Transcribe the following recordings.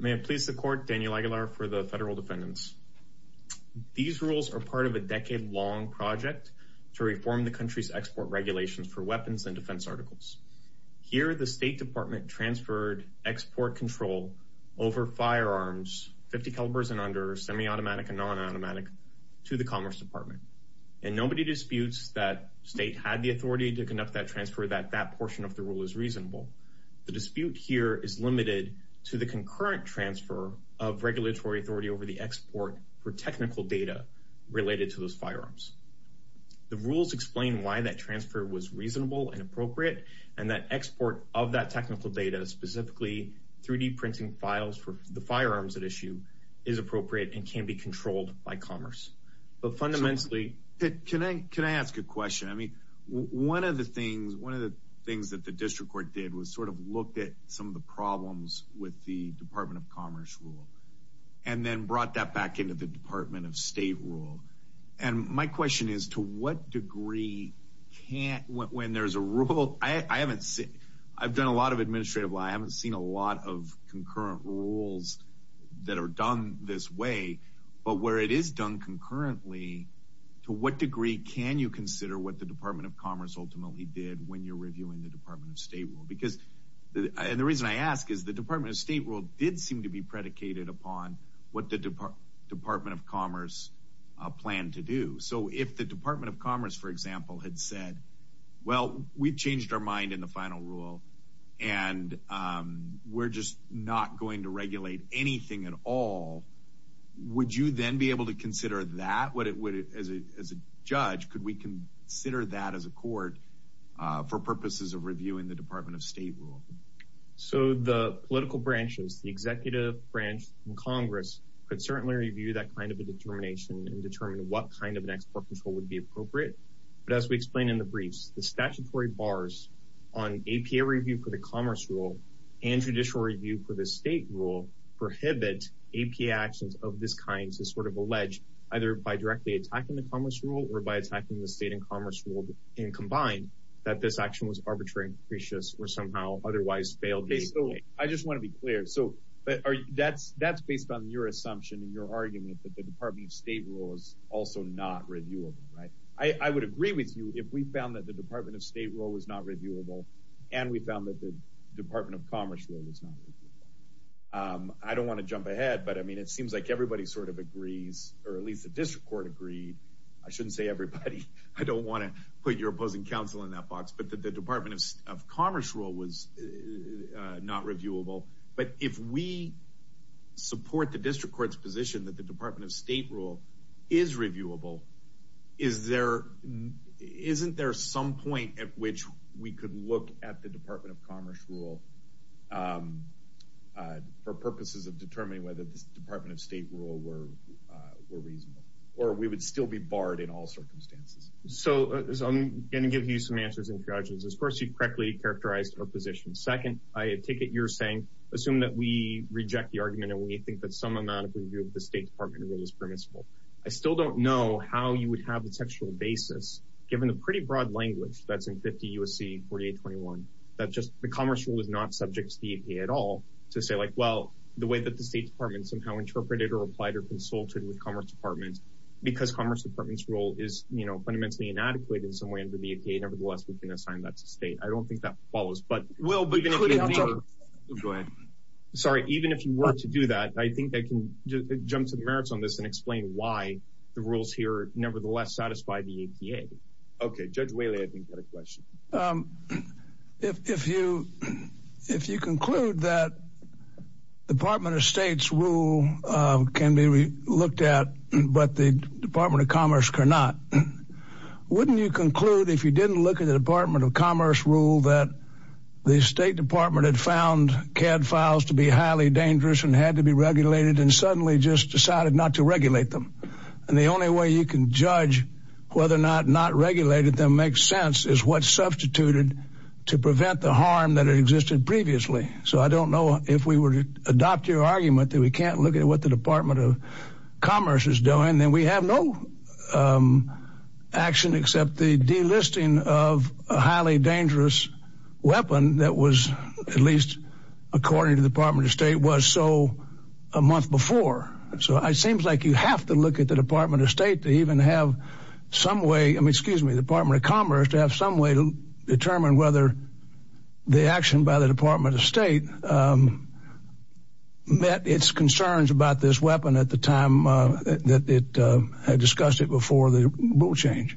May it please the Court, Daniel Aguilar for the Federal Defendants. These rules are part of a decade-long project to reform the country's export regulations for weapons and defense articles. Here the State Department transferred export control over firearms, .50 calibers and under, semi-automatic and non-automatic, to the Commerce Department. And nobody disputes that State had the authority to conduct that transfer, that that portion of the rule is reasonable. The dispute here is limited to the concurrent transfer of regulatory authority over the export for technical data related to those firearms. The rules explain why that transfer was reasonable and appropriate, and that export of that technical data, specifically 3D printing files for the firearms at issue, is appropriate and can be controlled by Commerce. But fundamentally... It was sort of looked at some of the problems with the Department of Commerce rule, and then brought that back into the Department of State rule. And my question is, to what degree can't, when there's a rule, I haven't seen, I've done a lot of administrative law, I haven't seen a lot of concurrent rules that are done this way, but where it is done concurrently, to what degree can you consider what the Department of Commerce ultimately did when you're reviewing the Department of State rule? And the reason I ask is, the Department of State rule did seem to be predicated upon what the Department of Commerce planned to do. So if the Department of Commerce, for example, had said, well, we've changed our mind in the final rule, and we're just not going to regulate anything at all, would you then be able to consider that, as a judge, could we consider that as a court for purposes of reviewing the Department of State rule? So the political branches, the executive branch in Congress, could certainly review that kind of a determination and determine what kind of an export control would be appropriate. But as we explained in the briefs, the statutory bars on APA review for the Commerce rule and judicial review for the State rule prohibit APA actions of this kind to sort of allege, either by directly attacking the Commerce rule or by attacking the State and Commerce rule in combined, that this action was arbitrary and capricious, or somehow otherwise failed the APA. Okay, so I just want to be clear. So that's based on your assumption and your argument that the Department of State rule is also not reviewable, right? I would agree with you if we found that the Department of State rule was not reviewable, and we found that the Department of Commerce rule was not reviewable. I don't want to jump ahead, but I mean, it seems like everybody sort of agrees, or at least the district court agreed. I shouldn't say everybody. I don't want to put your opposing counsel in that box, but the Department of Commerce rule was not reviewable. But if we support the district court's position that the Department of State rule is reviewable, isn't there some point at which we could look at the Department of Commerce rule for purposes of determining whether the Department of State rule were reasonable? Or we would still be barred in all circumstances? So I'm going to give you some answers and suggestions. First, you correctly characterized our position. Second, I take it you're saying, assume that we reject the argument and we think that some amount of review of the State Department rule is permissible. I still don't know how you would have the textual basis, given the pretty broad language that's in 50 U.S.C. 4821, that just the Commerce rule is not subject to the APA at all, to say like, well, the way that the State Department somehow interpreted or applied or consulted with Commerce Department, because Commerce Department's rule is, you know, fundamentally inadequate in some way under the APA, nevertheless, we can assign that to State. I don't think that follows. But we'll be going to go ahead. Sorry. Even if you were to do that, I think I can jump to the merits on this and explain why the rules here nevertheless satisfy the APA. OK, Judge Whaley, I think that a question. If you if you conclude that Department of State's rule can be looked at, but the Department of Commerce cannot, wouldn't you conclude if you didn't look at the Department of Commerce rule that the State Department had found CAD files to be highly dangerous and had to be regulated and suddenly just decided not to regulate them? And the only way you can judge whether or not not regulated them makes sense is what substituted to prevent the harm that existed previously. So I don't know if we were to adopt your argument that we can't look at what the Department of Commerce is doing, then we have no action except the delisting of a highly dangerous weapon that was at least, according to the Department of State, was so a month before. So it seems like you have to look at the Department of State to even have some way. I mean, excuse me, the Department of Commerce to have some way to determine whether the action by the Department of State met its concerns about this weapon at the time that it had discussed it before the rule change.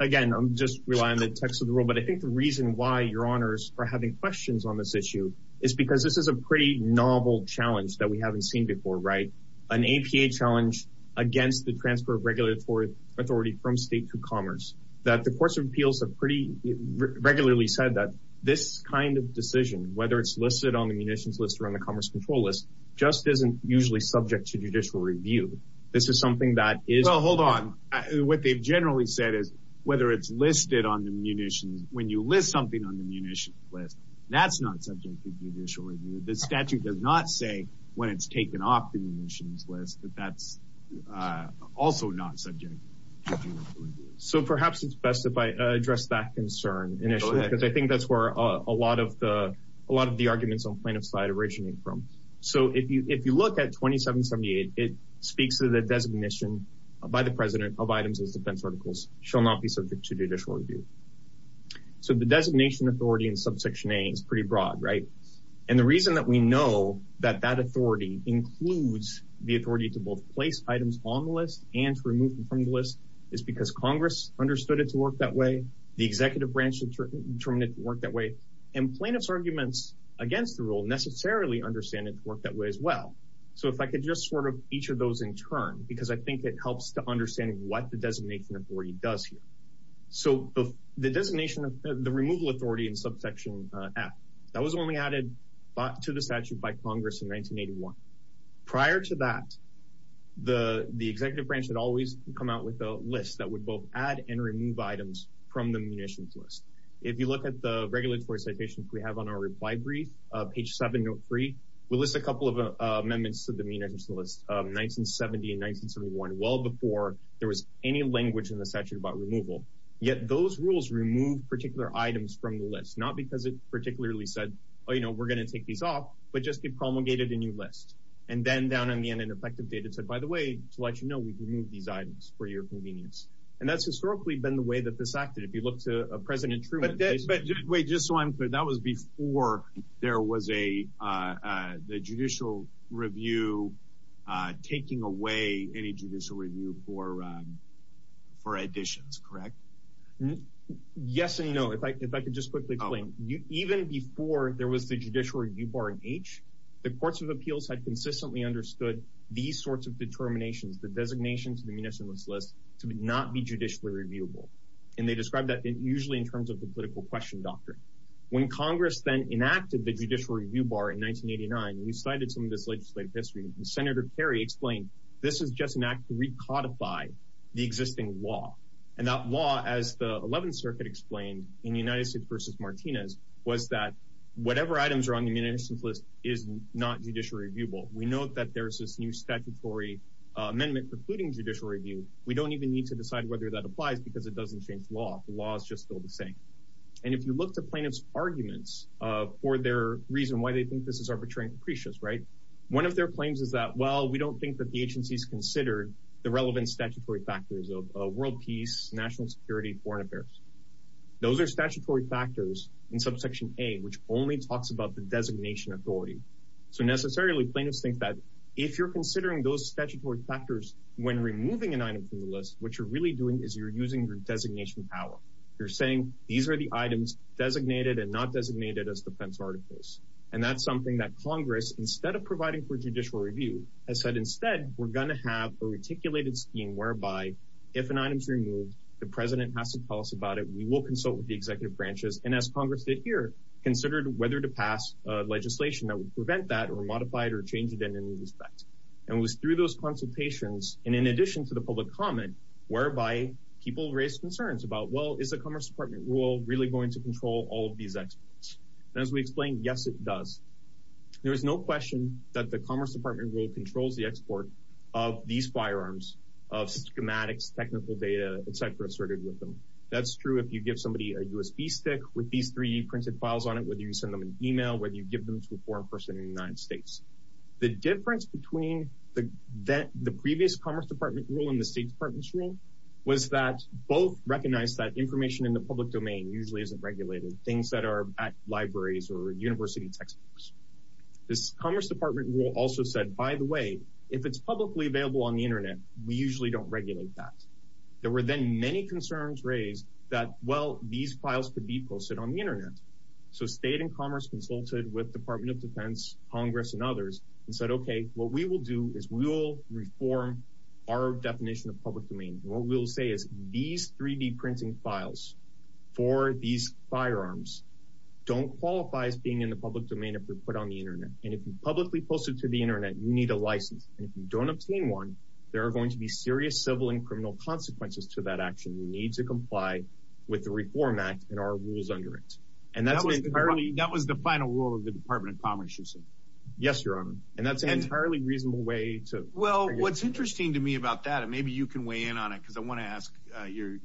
Again, I'm just relying on the text of the rule. But I think the reason why your honors are having questions on this issue is because this is a pretty novel challenge that we haven't seen before, right? An APA challenge against the transfer of regulatory authority from state to commerce, that the courts of appeals have pretty regularly said that this kind of decision, whether it's listed on the munitions list or on the commerce control list, just isn't usually subject to judicial review. This is something that is- Well, hold on. What they've generally said is whether it's listed on the munitions, when you list something on the munitions list, that's not subject to judicial review. The statute does not say when it's taken off the munitions list that that's also not subject to judicial review. So perhaps it's best if I address that concern initially because I think that's where a lot of the arguments on plaintiff's side originate from. So if you look at 2778, it speaks to the designation by the president of items as defense articles shall not be subject to judicial review. So the designation authority in subsection A is pretty broad, right? And the reason that we know that that authority includes the authority to both place items on the list and to remove them from the list is because Congress understood it to work that way, the executive branch determined it to work that way, and plaintiff's arguments against the rule necessarily understand it to work that way as well. So if I could just sort of each of those in turn, because I think it helps to understand what the designation authority does here. So the designation of the removal authority in subsection F, that was only added to the statute by Congress in 1981. Prior to that, the executive branch had always come out with a list that would both add and remove items from the munitions list. If you look at the regulatory citations we have on our reply brief, page 7, note 3, we list a couple of amendments to the munitions list, 1970 and 1971, well before there was any language in the statute about removal, yet those rules remove particular items from the list, not because it particularly said, oh, you know, we're going to take these off, but just depromulgated a new list. And then down in the end, in effective data, it said, by the way, to let you know, we can move these items for your convenience. And that's historically been the way that this acted. If you look to President Truman- But wait, just so I'm clear, that was before there was the judicial review taking away any judicial review for additions, correct? Yes and no. If I could just quickly explain. Even before there was the judicial review bar in H, the courts of appeals had consistently understood these sorts of determinations, the designation to the munitions list to not be judicially reviewable. And they described that usually in terms of the political question doctrine. When Congress then enacted the judicial review bar in 1989, we cited some of this legislative history. And Senator Kerry explained, this is just an act to recodify the existing law. And that law, as the 11th Circuit explained in the United States v. Martinez, was that whatever items are on the munitions list is not judicially reviewable. We know that there's this new statutory amendment precluding judicial review. We don't even need to decide whether that applies because it doesn't change the law. The law is just still the same. And if you look to plaintiffs' arguments for their reason why they think this is arbitrary and capricious, right? One of their claims is that, well, we don't think that the agency's considered the relevant statutory factors of world peace, national security, foreign affairs. Those are statutory factors in subsection A, which only talks about the designation authority. So, necessarily, plaintiffs think that if you're considering those statutory factors when removing an item from the list, what you're really doing is you're using your designation power. You're saying, these are the items designated and not designated as defense articles. And that's something that Congress, instead of providing for judicial review, has said, instead, we're going to have a reticulated scheme whereby if an item's removed, the president has to tell us about it. We will consult with the executive branches. And as Congress did here, considered whether to pass legislation that would prevent that or modify it or change it in any respect. And it was through those consultations, and in addition to the public comment, whereby people raised concerns about, well, is the Commerce Department rule really going to control all of these experts? And as we explained, yes, it does. There is no question that the Commerce Department rule controls the export of these firearms, of schematics, technical data, et cetera, assorted with them. That's true if you give somebody a USB stick with these three printed files on it, whether you send them an email, whether you give them to a foreign person in the United States. The difference between the previous Commerce Department rule and the State Department's rule was that both recognized that information in the public domain usually isn't regulated. Things that are at libraries or university textbooks. This Commerce Department rule also said, by the way, if it's publicly available on the Internet, we usually don't regulate that. There were then many concerns raised that, well, these files could be posted on the Internet. So State and Commerce consulted with Department of Defense, Congress, and others and said, okay, what we will do is we will reform our definition of public domain. What we will say is these 3D printing files for these firearms don't qualify as being in the public domain if they're put on the Internet. And if you publicly post it to the Internet, you need a license. And if you don't obtain one, there are going to be serious civil and criminal consequences to that action. You need to comply with the Reform Act and our rules under it. And that's entirely- That was the final rule of the Department of Commerce, you said? Yes, Your Honor. And that's an entirely reasonable way to- Well, what's interesting to me about that, and maybe you can weigh in on it because I want to ask your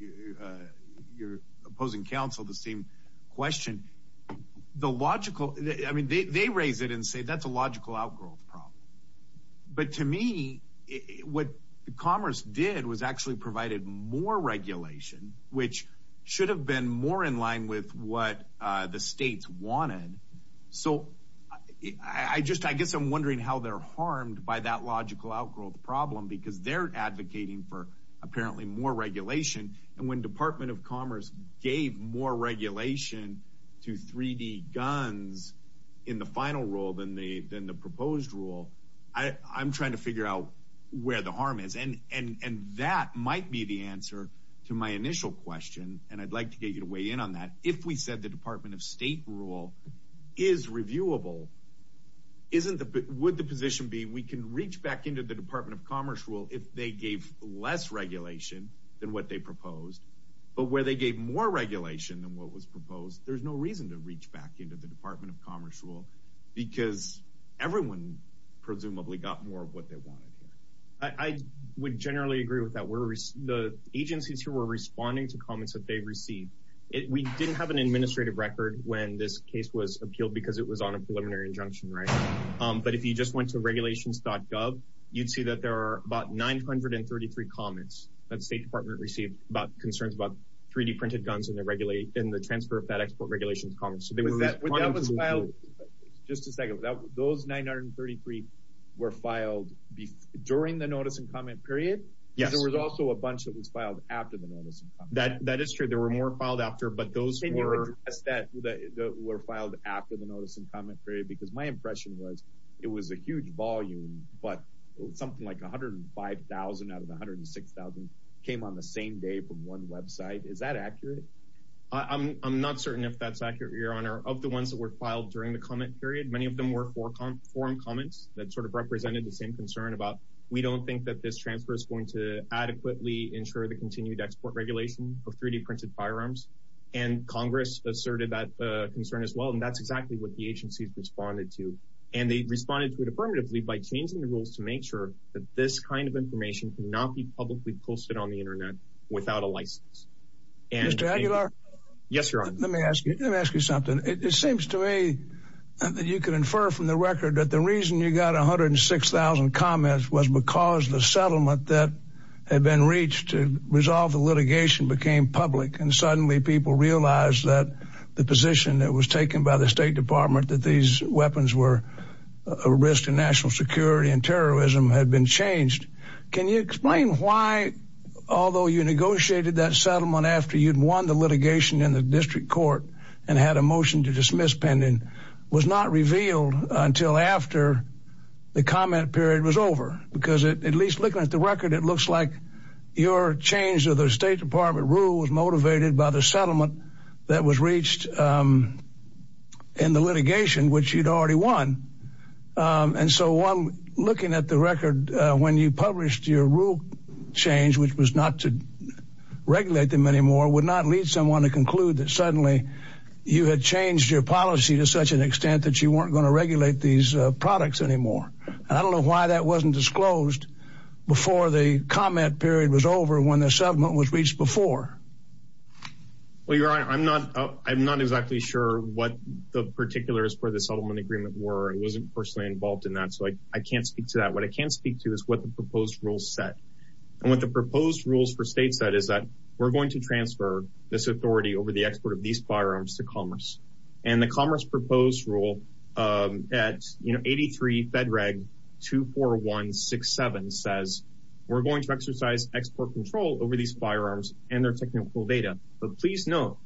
opposing counsel the same question. The logical- I mean, they raise it and say that's a logical outgrowth problem. But to me, what Commerce did was actually provided more regulation, which should have been more in line with what the states wanted. So I guess I'm wondering how they're harmed by that logical outgrowth problem because they're advocating for apparently more regulation. And when Department of Commerce gave more regulation to 3D guns in the final rule than the proposed rule, I'm trying to figure out where the harm is. And that might be the answer to my initial question. And I'd like to get you to weigh in on that. If we said the Department of State rule is reviewable, would the position be we can reach back into the Department of Commerce rule if they gave less regulation than what they proposed, but where they gave more regulation than what was proposed, there's no reason to reach back into the Department of Commerce rule because everyone presumably got more of what they wanted here. I would generally agree with that. The agencies who were responding to comments that they received, we didn't have an administrative record when this case was appealed because it was on a preliminary injunction, right? But if you just went to regulations.gov, you'd see that there are about 933 comments that the State Department received about concerns about 3D printed guns and the transfer of that export regulation to Commerce. So they were responding to that. But that was filed, just a second, those 933 were filed during the notice and comment period? Yes. There was also a bunch that was filed after the notice and comment period. That is true. There were more filed after, but those were- Can you address that were filed after the notice and comment period? Because my impression was it was a huge volume, but something like 105,000 out of 106,000 came on the same day from one website. Is that accurate? I'm not certain if that's accurate, Your Honor. Of the ones that were filed during the comment period, many of them were forum comments that sort of represented the same concern about, we don't think that this transfer is going to adequately ensure the continued export regulation of 3D printed firearms. And Congress asserted that concern as well, and that's exactly what the agencies responded to. And they responded to it affirmatively by changing the rules to make sure that this kind of information cannot be publicly posted on the internet without a license. Mr. Aguilar? Yes, Your Honor. Let me ask you something. It seems to me that you can infer from the record that the reason you got 106,000 comments was because the settlement that had been reached to resolve the litigation became public, and suddenly people realized that the position that was taken by the State Department that these weapons were a risk to national security and terrorism had been changed. Can you explain why, although you negotiated that settlement after you'd won the litigation in the district court and had a motion to dismiss pending, was not revealed until after the comment period was over? Because at least looking at the record, it looks like your change to the State Department rule was motivated by the settlement that was reached in the litigation, which you'd already won. And so looking at the record, when you published your rule change, which was not to regulate them anymore, would not lead someone to conclude that suddenly you had changed your policy to such an extent that you weren't going to regulate these products anymore. And I don't know why that wasn't disclosed before the comment period was over when the settlement was reached before. Well, Your Honor, I'm not exactly sure what the particulars for the settlement agreement were. I wasn't personally involved in that, so I can't speak to that. What I can speak to is what the proposed rules said. And what the proposed rules for states said is that we're going to transfer this authority over the export of these firearms to commerce. And the commerce proposed rule at, you know, 83 Fed Reg 24167 says we're going to exercise export control over these firearms and their technical data. But please note,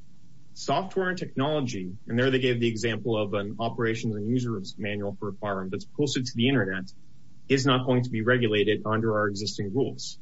software and technology, and there they gave the example of an operations and users manual for a firearm that's posted to the Internet, is not going to be regulated under our existing rules.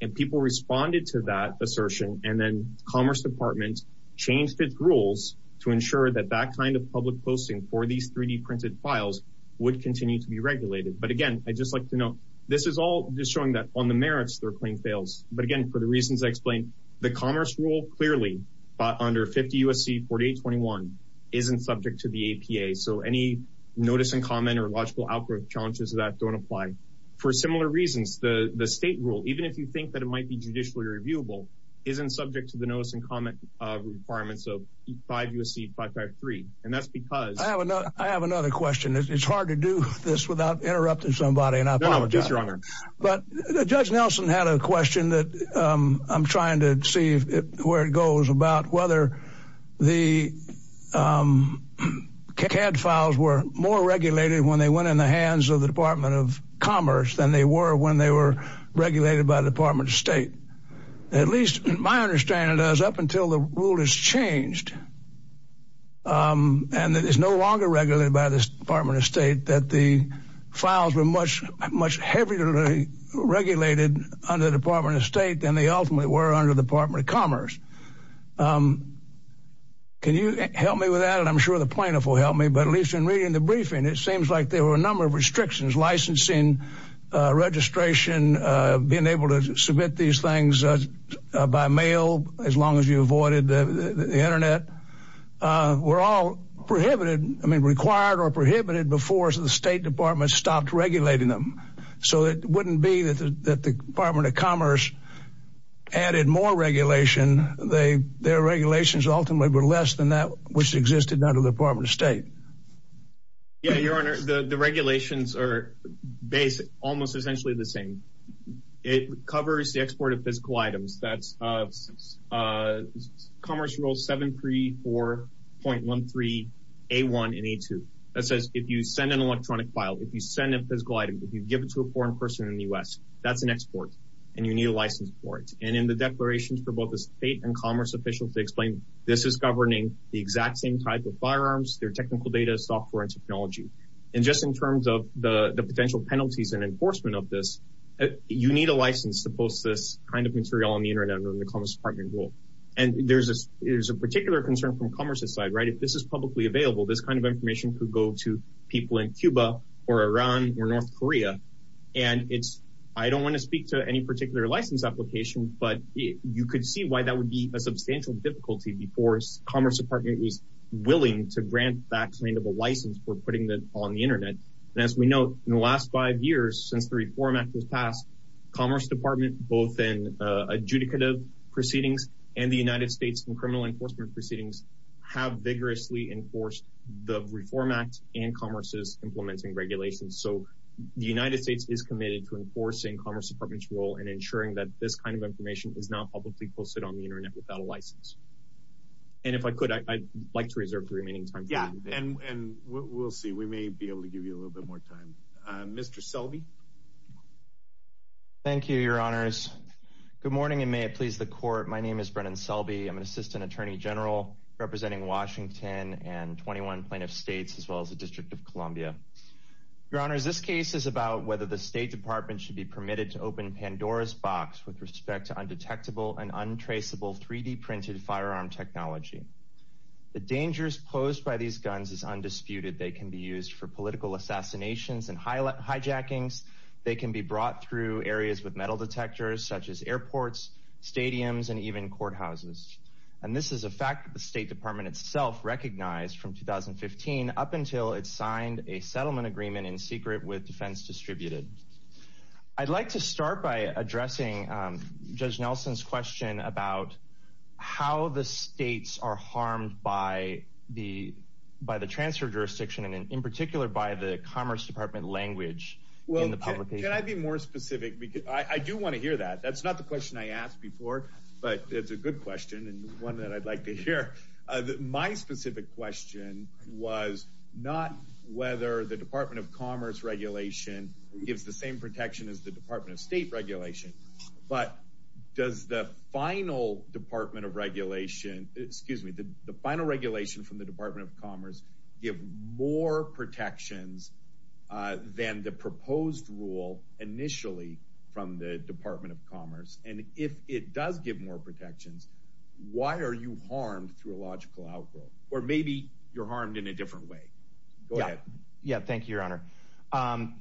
And people responded to that assertion, and then Commerce Department changed its rules to ensure that that kind of public posting for these 3D printed files would continue to be regulated. But again, I'd just like to note, this is all just showing that on the merits their claim fails. But again, for the reasons I explained, the commerce rule clearly under 50 U.S.C. 4821 isn't subject to the APA. So any notice and comment or logical outgrowth challenges of that don't apply. For similar reasons, the state rule, even if you think that it might be judicially reviewable, isn't subject to the notice and comment requirements of 5 U.S.C. 553. And that's because... I have another question. It's hard to do this without interrupting somebody, and I apologize. No, no. Yes, Your Honor. But Judge Nelson had a question that I'm trying to see where it goes about whether the CAD files were more regulated when they went in the hands of the Department of Commerce than they were when they were regulated by the Department of State. At least my understanding is, up until the rule is changed, and it is no longer regulated by the Department of State, that the files were much, much heavierly regulated under the Department of State than they ultimately were under the Department of Commerce. Can you help me with that? I'm sure the plaintiff will help me, but at least in reading the briefing, it seems like there were a number of restrictions, licensing, registration, being able to submit these things by mail, as long as you avoided the Internet, were all prohibited, I mean, required or prohibited before the State Department stopped regulating them. So it wouldn't be that the Department of Commerce added more regulation. Their regulations ultimately were less than that which existed under the Department of State. Yes, Your Honor. The regulations are almost essentially the same. It covers the export of physical items. That's Commerce Rule 734.13A1 and A2 that says if you send an electronic file, if you send a physical item, if you give it to a foreign person in the U.S., that's an export and you need a license for it. And in the declarations for both the state and commerce officials, they explain this is governing the exact same type of firearms, their technical data, software, and technology. And just in terms of the potential penalties and enforcement of this, you need a license to post this kind of material on the Internet under the Commerce Department rule. And there's a particular concern from commerce's side, right? If this is publicly available, this kind of information could go to people in Cuba or Iran or North Korea. And I don't want to speak to any particular license application, but you could see why that would be a substantial difficulty before Commerce Department was willing to grant that kind of a license for putting it on the Internet. And as we know, in the last five years since the Reform Act was passed, Commerce Department, both in adjudicative proceedings and the United States in criminal enforcement proceedings, have vigorously enforced the Reform Act and commerce's implementing regulations. So the United States is committed to enforcing Commerce Department's rule and ensuring that this kind of information is not publicly posted on the Internet without a license. And if I could, I'd like to reserve the remaining time for that. Yeah. And we'll see. We may be able to give you a little bit more time. Mr. Selby? Thank you, Your Honors. Good morning, and may it please the Court. My name is Brennan Selby. I'm an Assistant Attorney General representing Washington and 21 plaintiff states as well as the District of Columbia. Your Honors, this case is about whether the State Department should be permitted to open Pandora's box with respect to undetectable and untraceable 3D-printed firearm technology. The dangers posed by these guns is undisputed. They can be used for political assassinations and hijackings. They can be brought through areas with metal detectors, such as airports, stadiums, and even courthouses. And this is a fact that the State Department itself recognized from 2015 up until it signed a settlement agreement in secret with Defense Distributed. I'd like to start by addressing Judge Nelson's question about how the states are harmed by the transfer jurisdiction, and in particular by the Commerce Department language in the publication. Well, can I be more specific? I do want to hear that. That's not the question I asked before, but it's a good question and one that I'd like to hear. My specific question was not whether the Department of Commerce regulation gives the same protection as the Department of State regulation, but does the final Department of Regulation, excuse me, the final regulation from the Department of Commerce give more protections than the proposed rule initially from the Department of Commerce? And if it does give more protections, why are you harmed through a logical outgrowth? Or maybe you're harmed in a different way. Go ahead. Yeah. Thank you, Your Honor.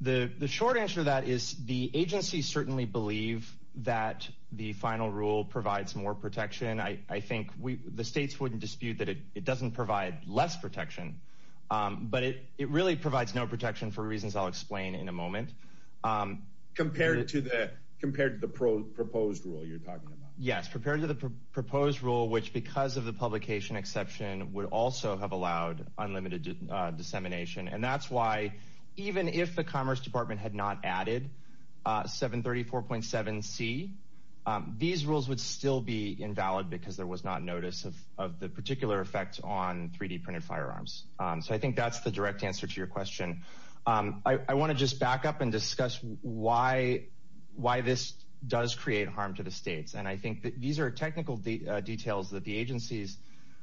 The short answer to that is the agencies certainly believe that the final rule provides more protection. I think the states wouldn't dispute that it doesn't provide less protection, but it really provides no protection for reasons I'll explain in a moment. Compared to the proposed rule you're talking about. Yes, compared to the proposed rule, which because of the publication exception would also have allowed unlimited dissemination. And that's why even if the Commerce Department had not added 734.7c, these rules would still be invalid because there was not notice of the particular effects on 3D printed firearms. So I think that's the direct answer to your question. I want to just back up and discuss why this does create harm to the states. And I think that these are technical details that the agencies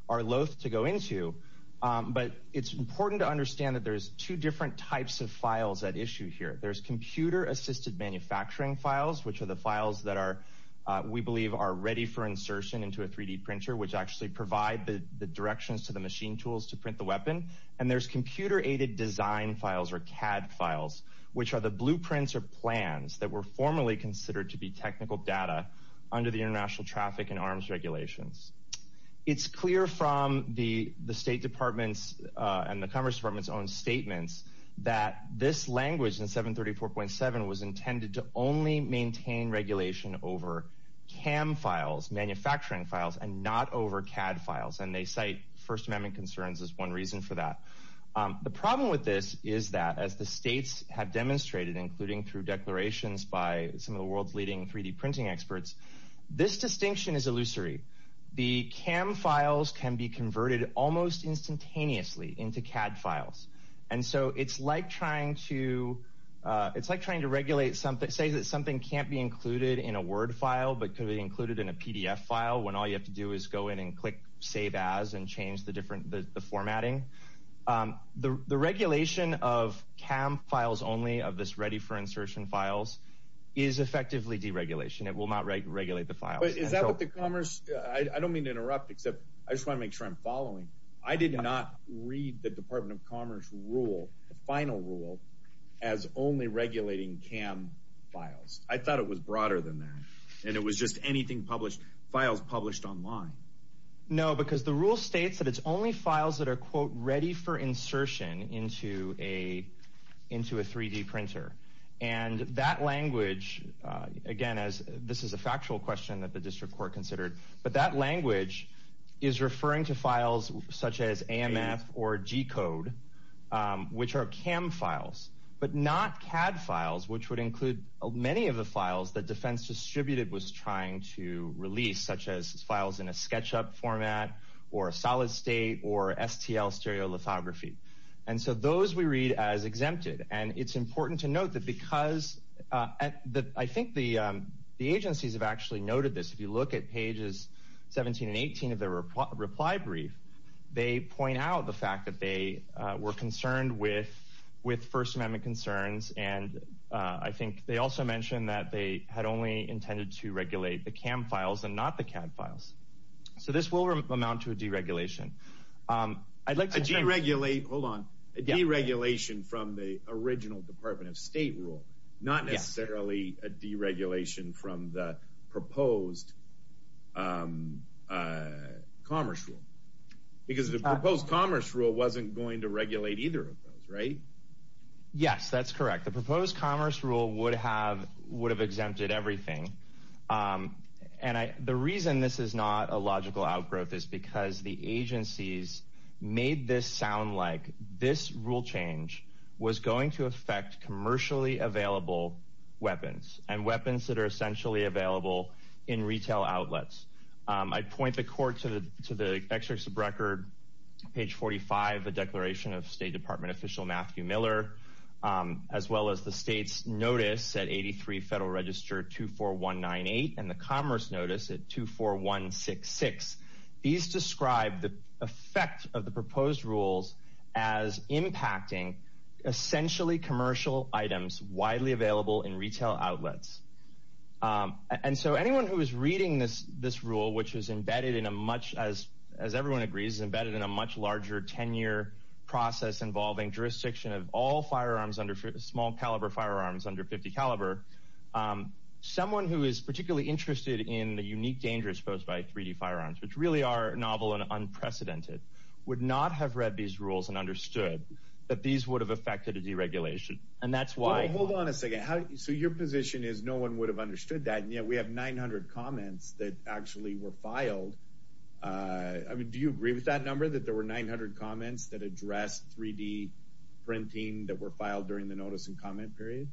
are loathe to go into. But it's important to understand that there's two different types of files at issue here. There's computer-assisted manufacturing files, which are the files that we believe are ready for insertion into a 3D printer, which actually provide the directions to the machine tools to print the weapon. And there's computer-aided design files, or CAD files, which are the blueprints or plans that were formerly considered to be technical data under the International Traffic and Arms Regulations. It's clear from the State Department's and the Commerce Department's own statements that this language in 734.7 was intended to only maintain regulation over CAM files, manufacturing files, and not over CAD files. And they cite First Amendment concerns as one reason for that. The problem with this is that, as the states have demonstrated, including through declarations by some of the world's leading 3D printing experts, this distinction is illusory. The CAM files can be converted almost instantaneously into CAD files. And so it's like trying to regulate something, say that something can't be included in a Word file but could be included in a PDF file, when all you have to do is go in and click Save As and change the formatting. The regulation of CAM files only, of this Ready for Insertion files, is effectively deregulation. It will not regulate the files. But is that what the Commerce – I don't mean to interrupt, except I just want to make sure I'm following. I did not read the Department of Commerce rule, the final rule, as only regulating CAM files. I thought it was broader than that, and it was just anything published – files published online. No, because the rule states that it's only files that are, quote, ready for insertion into a 3D printer. And that language – again, this is a factual question that the district court considered – but that language is referring to files such as AMF or G-code, which are CAM files, but not CAD files, which would include many of the files that Defense Distributed was trying to release, such as files in a SketchUp format or a solid state or STL stereolithography. And so those we read as exempted. And it's important to note that because – I think the agencies have actually noted this. If you look at pages 17 and 18 of their reply brief, they point out the fact that they were concerned with First Amendment concerns, and I think they also mentioned that they had only intended to regulate the CAM files and not the CAD files. So this will amount to a deregulation. I'd like to – A deregulate – hold on. A deregulation from the original Department of State rule, not necessarily a deregulation from the proposed Commerce Rule. Because the proposed Commerce Rule wasn't going to regulate either of those, right? Yes, that's correct. The proposed Commerce Rule would have exempted everything. And the reason this is not a logical outgrowth is because the agencies made this sound like this rule change was going to affect commercially available weapons and weapons that are essentially available in retail outlets. I'd point the court to the excerpt of record, page 45, the declaration of State Department official Matthew Miller, as well as the state's notice at 83 Federal Register 24198 and the Commerce Notice at 24166. These describe the effect of the proposed rules as impacting essentially commercial items widely available in retail outlets. And so anyone who is reading this rule, which is embedded in a much – as everyone agrees, it's embedded in a much larger 10-year process involving jurisdiction of all firearms under – small-caliber firearms under .50 caliber – someone who is particularly interested in the unique dangers posed by 3D firearms, which really are novel and unprecedented, would not have read these rules and understood that these would have affected a deregulation. And that's why – Hold on a second. So your position is no one would have understood that, and yet we have 900 comments that actually were filed. I mean, do you agree with that number, that there were 900 comments that addressed 3D printing that were filed during the notice and comment period?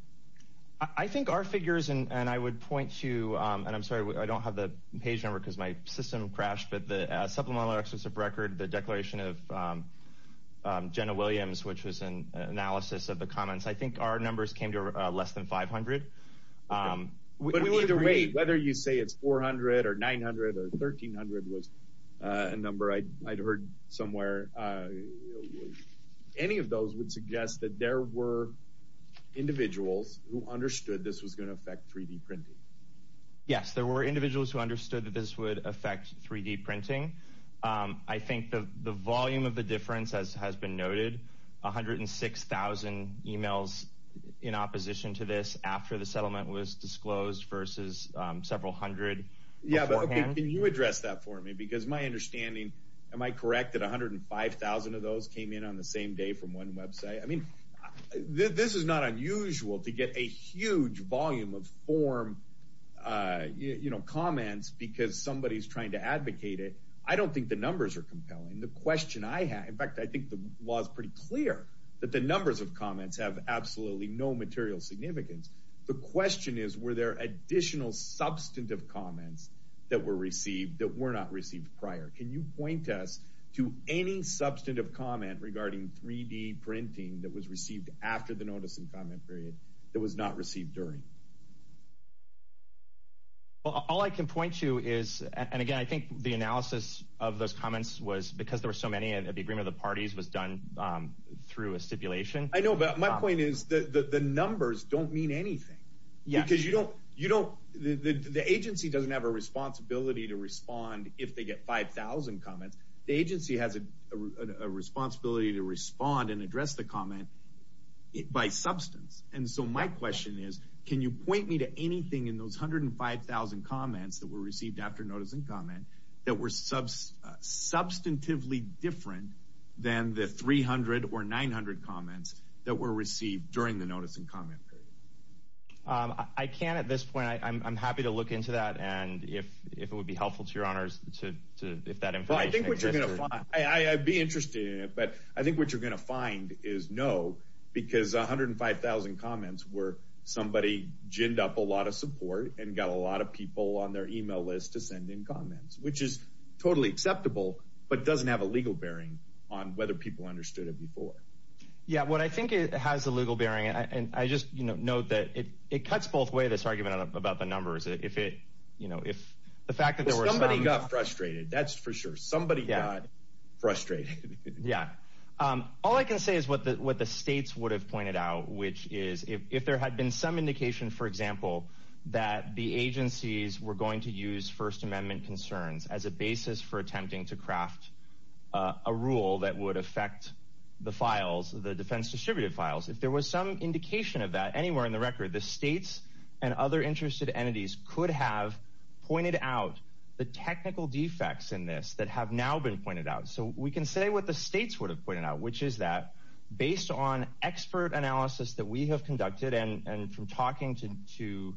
I think our figures – and I would point to – and I'm sorry, I don't have the page number because my system crashed, but the supplemental excerpt of record, the declaration of Jenna Williams, which was an analysis of the comments – I think our numbers came to less than 500. But either way, whether you say it's 400 or 900 or 1300 was a number I'd heard somewhere, any of those would suggest that there were individuals who understood this was going to affect 3D printing. Yes, there were individuals who understood that this would affect 3D printing. I think the volume of the difference, as has been noted, 106,000 emails in opposition to this after the settlement was disclosed versus several hundred beforehand. Yeah, but can you address that for me? Because my understanding – am I correct that 105,000 of those came in on the same day from one website? I mean, this is not unusual to get a huge volume of form, you know, comments because somebody's trying to advocate it. I don't think the numbers are compelling. The question I have – in fact, I think the law is pretty clear that the numbers of comments have absolutely no material significance. The question is, were there additional substantive comments that were received that were not received prior? Can you point us to any substantive comment regarding 3D printing that was received after the notice and comment period that was not received during? All I can point to is – and again, I think the analysis of those comments was because there were so many and the agreement of the parties was done through a stipulation. I know, but my point is that the numbers don't mean anything because you don't – the agency doesn't have a responsibility to respond if they get 5,000 comments. The agency has a responsibility to respond and address the comment by substance. And so my question is, can you point me to anything in those 105,000 comments that were received during the notice and comment period? I can't at this point. I'm happy to look into that and if it would be helpful to your honors to – if that information Well, I think what you're going to find – I'd be interested in it, but I think what you're going to find is no because 105,000 comments were somebody ginned up a lot of support and got a lot of people on their email list to send in comments, which is totally acceptable but doesn't have a legal bearing on whether people understood it before. Yeah, what I think it has a legal bearing on – and I just note that it cuts both ways this argument about the numbers. If it – you know, if the fact that there were some – Somebody got frustrated. That's for sure. Somebody got frustrated. Yeah. All I can say is what the states would have pointed out, which is if there had been some indication, for example, that the agencies were going to use First Amendment concerns as a basis for attempting to craft a rule that would affect the files, the defense distributed files, if there was some indication of that anywhere in the record, the states and other interested entities could have pointed out the technical defects in this that have now been pointed out. So we can say what the states would have pointed out, which is that based on expert analysis that we have conducted and from talking to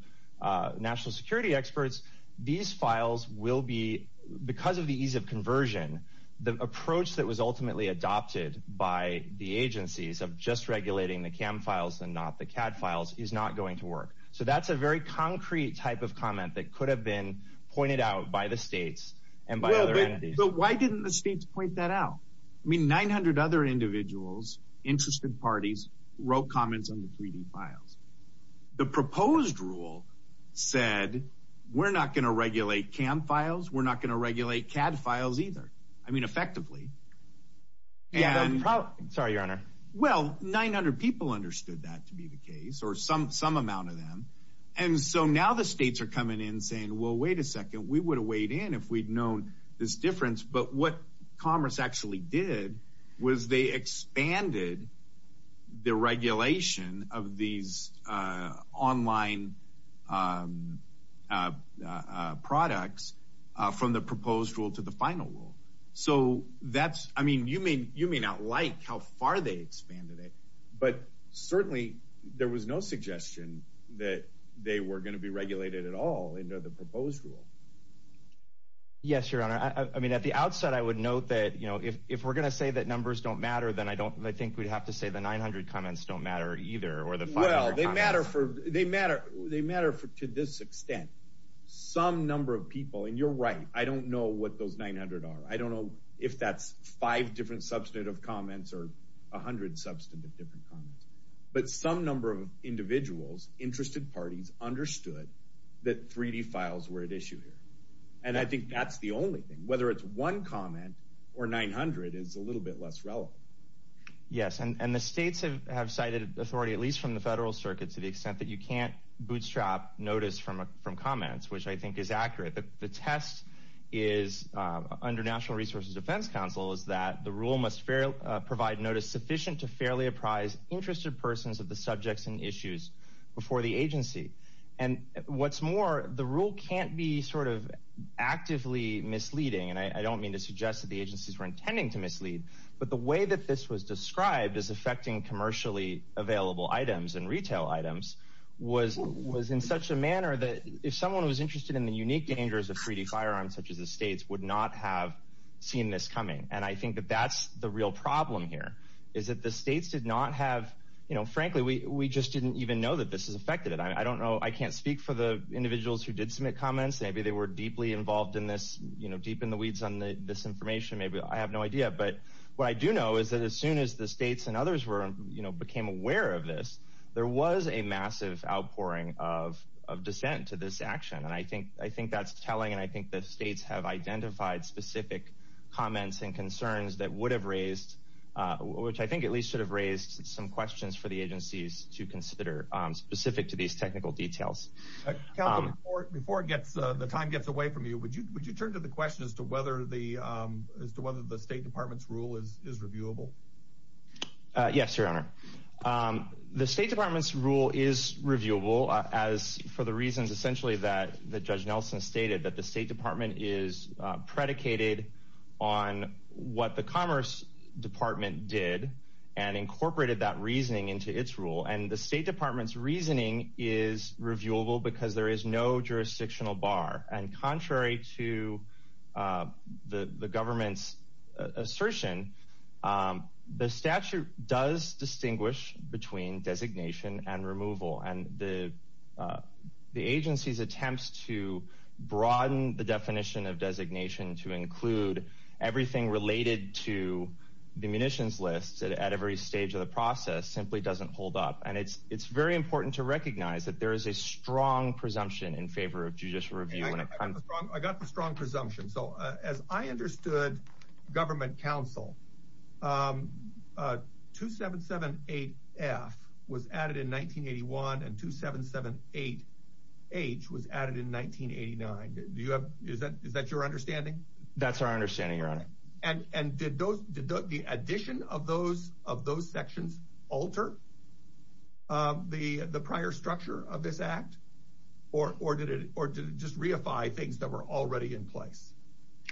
national security experts, these files will be – because of the ease of conversion, the approach that was ultimately adopted by the agencies of just regulating the CAM files and not the CAD files is not going to work. So that's a very concrete type of comment that could have been pointed out by the states and by other entities. But why didn't the states point that out? I mean, 900 other individuals, interested parties, wrote comments on the 3D files. The proposed rule said, we're not going to regulate CAM files, we're not going to regulate CAD files either, I mean, effectively. Sorry, Your Honor. Well, 900 people understood that to be the case or some amount of them. And so now the states are coming in saying, well, wait a second, we would have weighed in if we'd known this difference. But what Commerce actually did was they expanded the regulation of these online products from the proposed rule to the final rule. So that's – I mean, you may not like how far they expanded it, but certainly there was no suggestion that they were going to be regulated at all under the proposed rule. Yes, Your Honor. I mean, at the outset, I would note that, you know, if we're going to say that numbers don't matter, then I don't – I think we'd have to say the 900 comments don't matter either or the 500 comments. Well, they matter for – they matter to this extent. Some number of people – and you're right, I don't know what those 900 are. I don't know if that's five different substantive comments or 100 substantive different comments. But some number of individuals, interested parties, understood that 3D files were at issue here. And I think that's the only thing. Whether it's one comment or 900 is a little bit less relevant. Yes. And the states have cited authority, at least from the federal circuit, to the extent that you can't bootstrap notice from comments, which I think is accurate. The test is – under National Resources Defense Council is that the rule must provide notice sufficient to fairly apprise interested persons of the subjects and issues before the agency. And what's more, the rule can't be sort of actively misleading, and I don't mean to suggest that the agencies were intending to mislead, but the way that this was described as affecting commercially available items and retail items was in such a manner that if someone was interested in the unique dangers of 3D firearms, such as the states, would not have seen this coming. And I think that that's the real problem here, is that the states did not have – frankly, we just didn't even know that this has affected it. I don't know – I can't speak for the individuals who did submit comments. Maybe they were deeply involved in this, you know, deep in the weeds on this information. Maybe – I have no idea. But what I do know is that as soon as the states and others were – you know, became aware of this, there was a massive outpouring of dissent to this action. And I think that's telling, and I think that states have identified specific comments and concerns that would have raised – which I think at least should have raised some questions for the agencies to consider specific to these technical details. Councilman, before it gets – the time gets away from you, would you turn to the question as to whether the – as to whether the State Department's rule is reviewable? Yes, Your Honor. The State Department's rule is reviewable, as – for the reasons essentially that Judge Nelson stated, that the State Department is predicated on what the Commerce Department did and incorporated that reasoning into its rule. And the State Department's reasoning is reviewable because there is no jurisdictional bar. And contrary to the government's assertion, the statute does distinguish between designation and removal. And the agency's attempts to broaden the definition of designation to include everything related to the munitions list at every stage of the process simply doesn't hold up. And it's very important to recognize that there is a strong presumption in favor of judicial review. I got the strong presumption. So as I understood government counsel, 2778F was added in 1981 and 2778H was added in 1989. Do you have – is that your understanding? That's our understanding, Your Honor. And did those – did the addition of those – of those sections alter the prior structure of this Act? Or did it – or did it just reify things that were already in place?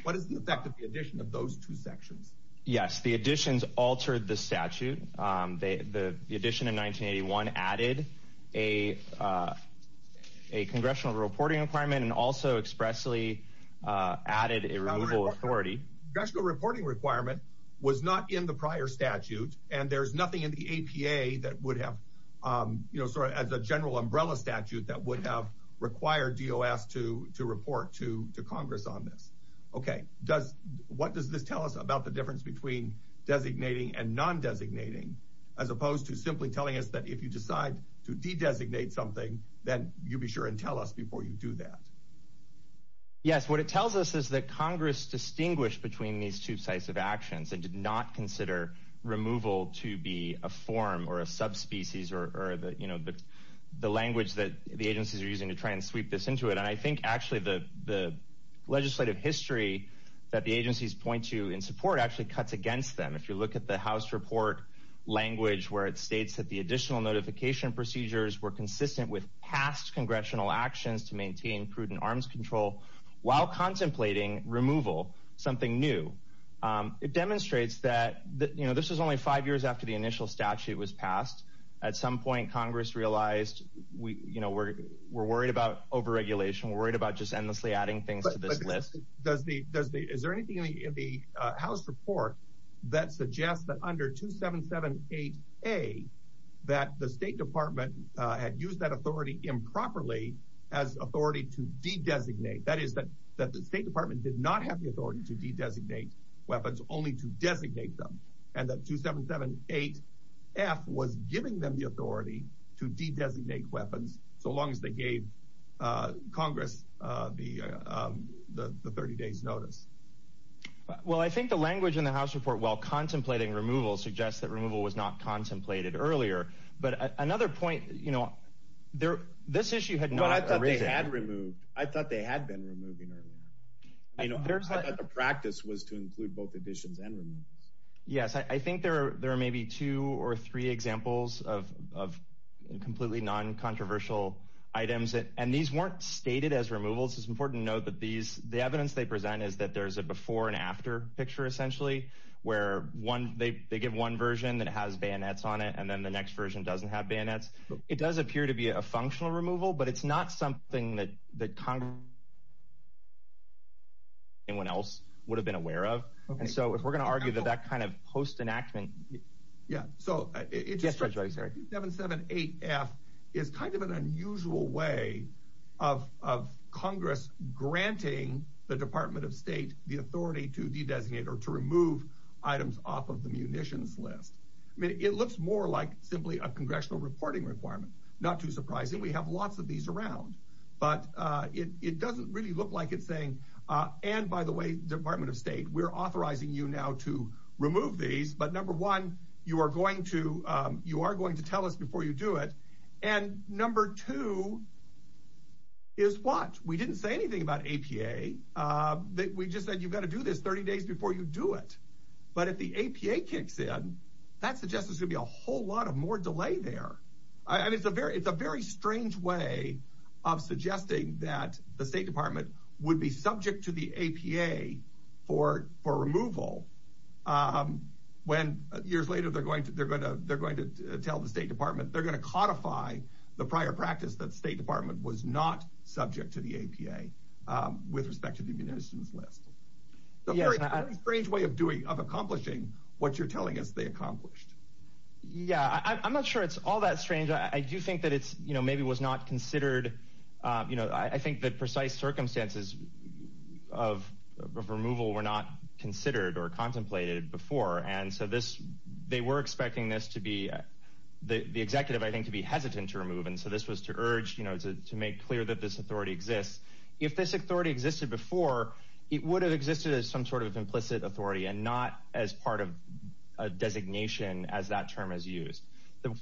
What is the effect of the addition of those two sections? Yes, the additions altered the statute. The addition in 1981 added a congressional reporting requirement and also expressly added a removal authority. A congressional reporting requirement was not in the prior statute. And there's nothing in the APA that would have – you know, sort of as a general umbrella statute that would have required DOS to report to Congress on this. Okay. Does – what does this tell us about the difference between designating and non-designating as opposed to simply telling us that if you decide to de-designate something, then you be sure and tell us before you do that? Yes. What it tells us is that Congress distinguished between these two sites of actions and did not consider removal to be a form or a subspecies or the – you know, the language that the agencies are using to try and sweep this into it. And I think actually the legislative history that the agencies point to in support actually cuts against them. If you look at the House report language where it states that the additional notification procedures were consistent with past congressional actions to maintain prudent arms control while contemplating removal, something new, it demonstrates that – you know, this was only five years after the initial statute was passed. At some point, Congress realized we – you know, we're worried about over-regulation. We're worried about just endlessly adding things to this list. Does the – is there anything in the House report that suggests that under 2778A that the State Department had used that authority improperly as authority to de-designate? That is, that the State Department did not have the authority to de-designate weapons, only to designate them, and that 2778F was giving them the authority to de-designate weapons so long as they gave Congress the 30 days' notice? Well, I think the language in the House report while contemplating removal suggests that removal was not contemplated earlier. But another point – you know, this issue had not arisen – I thought they had been removing earlier. You know, I thought that the practice was to include both additions and removals. Yes, I think there are maybe two or three examples of completely non-controversial items. And these weren't stated as removals. It's important to note that these – the evidence they present is that there's a before and after picture, essentially, where one – they give one version that has bayonets on it, and then the next version doesn't have bayonets. It does appear to be a functional removal, but it's not something that Congress or anyone else would have been aware of. And so, if we're going to argue that that kind of post-enactment – Yeah, so, it's just that 2778F is kind of an unusual way of Congress granting the Department of State the authority to de-designate or to remove items off of the munitions list. I mean, it looks more like simply a congressional reporting requirement. Not too surprising. We have lots of these around. But it doesn't really look like it's saying, and by the way, Department of State, we're authorizing you now to remove these. But number one, you are going to tell us before you do it. And number two is what? We didn't say anything about APA. We just said you've got to do this 30 days before you do it. But if the APA kicks in, that suggests there's going to be a whole lot of more delay there. I mean, it's a very strange way of suggesting that the State Department would be subject to the APA for removal when years later they're going to tell the State Department they're going to codify the prior practice that the State Department was not subject to the APA with respect to the munitions list. A very strange way of doing, of accomplishing what you're telling us they accomplished. Yeah, I'm not sure it's all that strange. I do think that it's, you know, maybe was not considered, you know, I think that precise circumstances of removal were not considered or contemplated before. And so this they were expecting this to be the executive, I think, to be hesitant to remove. And so this was to urge, you know, to make clear that this authority exists. If this authority existed before, it would have existed as some sort of implicit authority and not as part of a designation as that term is used.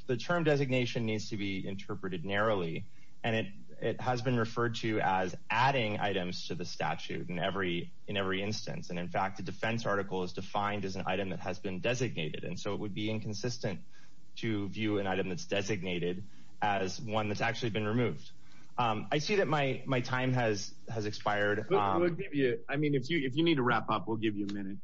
The term designation needs to be interpreted narrowly. And it has been referred to as adding items to the statute in every instance. And in fact, the defense article is defined as an item that has been designated. And so it would be inconsistent to view an item that's designated as one that's actually been removed. I see that my my time has has expired. I mean, if you if you need to wrap up, we'll give you a minute.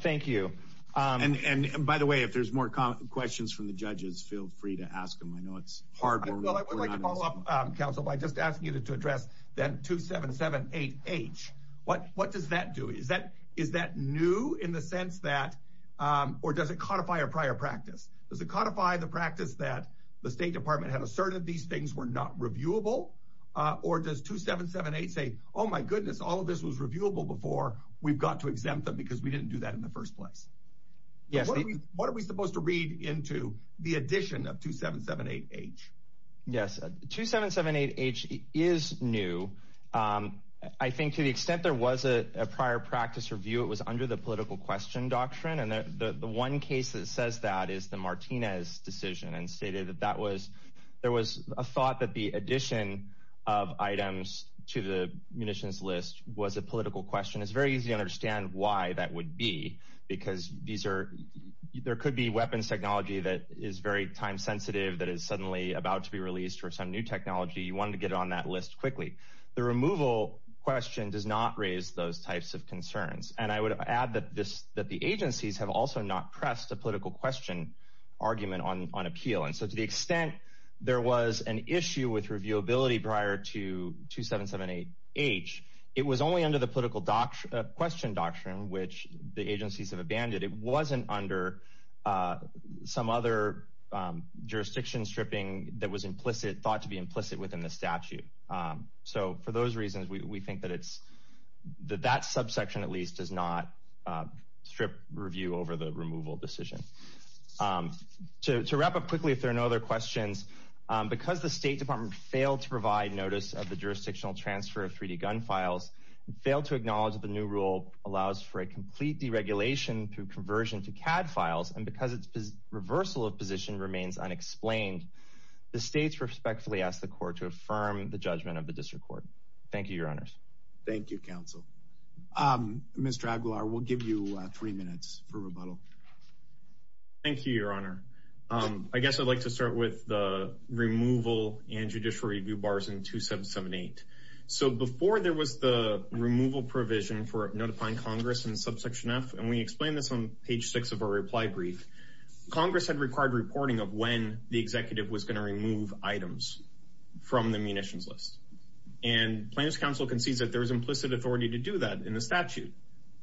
Thank you. And by the way, if there's more questions from the judges, feel free to ask them. I know it's hard. Well, I would like to follow up, counsel, by just asking you to address that 2778H. What what does that do? Is that is that new in the sense that or does it codify a prior practice? Does it codify the practice that the State Department had asserted these things were not reviewable? Or does 2778 say, oh, my goodness, all of this was reviewable before we've got to exempt them because we didn't do that in the first place? Yes. What are we supposed to read into the addition of 2778H? Yes. 2778H is new. I think to the extent there was a prior practice review, it was under the political question doctrine. And the one case that says that is the Martinez decision and stated that that was there was a thought that the addition of items to the munitions list was a political question. It's very easy to understand why that would be, because these are there could be weapons technology that is very time sensitive, that is suddenly about to be released or some new technology. You want to get on that list quickly. The removal question does not raise those types of concerns. And I would add that the agencies have also not pressed a political question argument on appeal. And so to the extent there was an issue with reviewability prior to 2778H, it was only under the political question doctrine, which the agencies have abandoned. It wasn't under some other jurisdiction stripping that was implicit, thought to be implicit within the statute. So for those reasons, we think that it's that subsection, at least, does not strip review over the removal decision. To wrap up quickly, if there are no other questions, because the State Department failed to provide notice of the jurisdictional transfer of 3D gun files, failed to acknowledge that the new rule allows for a complete deregulation through conversion to CAD files. And because its reversal of position remains unexplained, the states respectfully ask the court to affirm the judgment of the district court. Thank you, your honors. Thank you, counsel. Mr. Aguilar, we'll give you three minutes for rebuttal. Thank you, your honor. I guess I'd like to start with the removal and judicial review bars in 2778. So before there was the removal provision for notifying Congress in subsection F, and we explained this on page six of our reply brief, Congress had required reporting of when the executive was going to remove items from the munitions list. And plaintiff's counsel concedes that there is implicit authority to do that in the statute.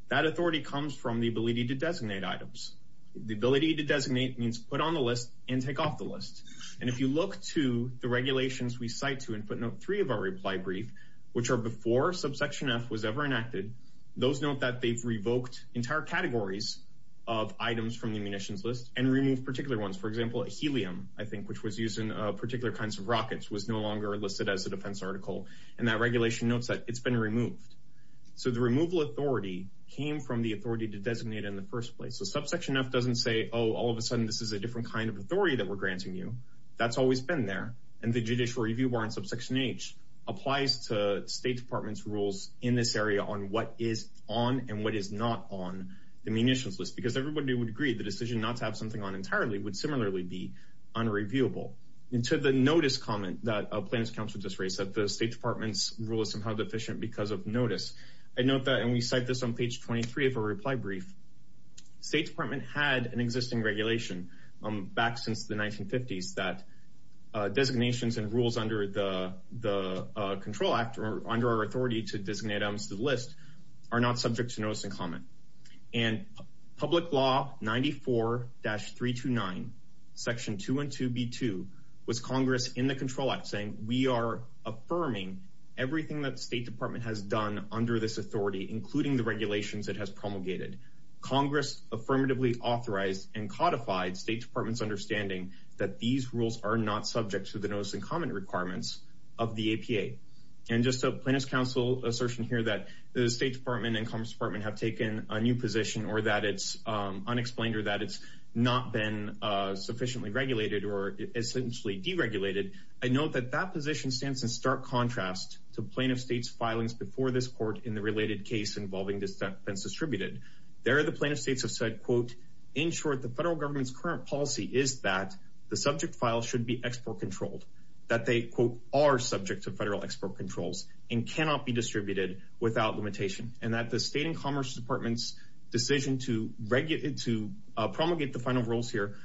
That authority comes from the ability to designate items. The ability to designate means put on the list and take off the list. And if you look to the regulations we cite to in footnote three of our reply brief, which are before subsection F was ever enacted, those note that they've revoked entire categories of items from the munitions list and removed particular ones. For example, helium, I think, which was used in particular kinds of rockets, was no longer listed as a defense article. And that regulation notes that it's been removed. So the removal authority came from the authority to designate in the first place. So subsection F doesn't say, oh, all of a sudden this is a different kind of authority that we're granting you. That's always been there. And the judicial review bar in subsection H applies to State Department's rules in this area on what is on and what is not on the munitions list, because everybody would agree the decision not to have something on entirely would similarly be unreviewable. And to the notice comment that a plaintiff's counsel just raised, that the State Department's rule is somehow deficient because of notice, I note that, and we cite this on page 23 of a reply brief, State Department had an existing regulation back since the 1950s that designations and rules under the Control Act or under our authority to designate items to the list are not subject to notice and comment. And Public Law 94-329, Section 212B2 was Congress in the Control Act saying we are affirming everything that State Department has done under this authority, including the regulations it has promulgated. Congress affirmatively authorized and codified State Department's understanding that these rules are not subject to the notice and comment requirements of the APA. And just a plaintiff's counsel assertion here that the State Department and Congress department have taken a new position or that it's unexplained or that it's not been sufficiently regulated or essentially deregulated. I note that that position stands in stark contrast to plaintiff states filings before this court in the related case involving this defense distributed. There are the plaintiff states have said, quote, in short, the federal government's current policy is that the subject file should be export controlled, that they, quote, are subject to federal export controls and cannot be distributed without limitation and that the State and Commerce Department's decision to promulgate the final rules here,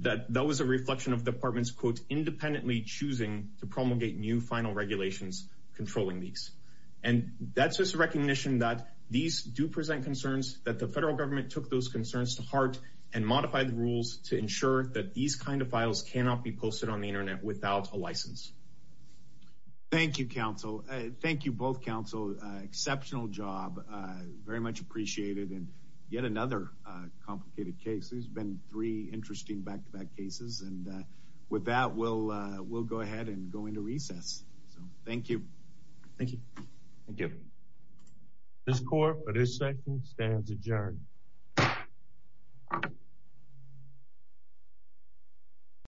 that that was a reflection of the department's, quote, independently choosing to promulgate new final regulations controlling these. And that's just a recognition that these do present concerns, that the federal government took those concerns to heart and modified the rules to ensure that these kind of files cannot be posted on the Internet without a license. Thank you, counsel. Thank you both, counsel. Exceptional job. Very much appreciated. And yet another complicated case. There's been three interesting back to back cases. And with that, we'll we'll go ahead and go into recess. So thank you. Thank you. Thank you. This court for this second stands adjourned.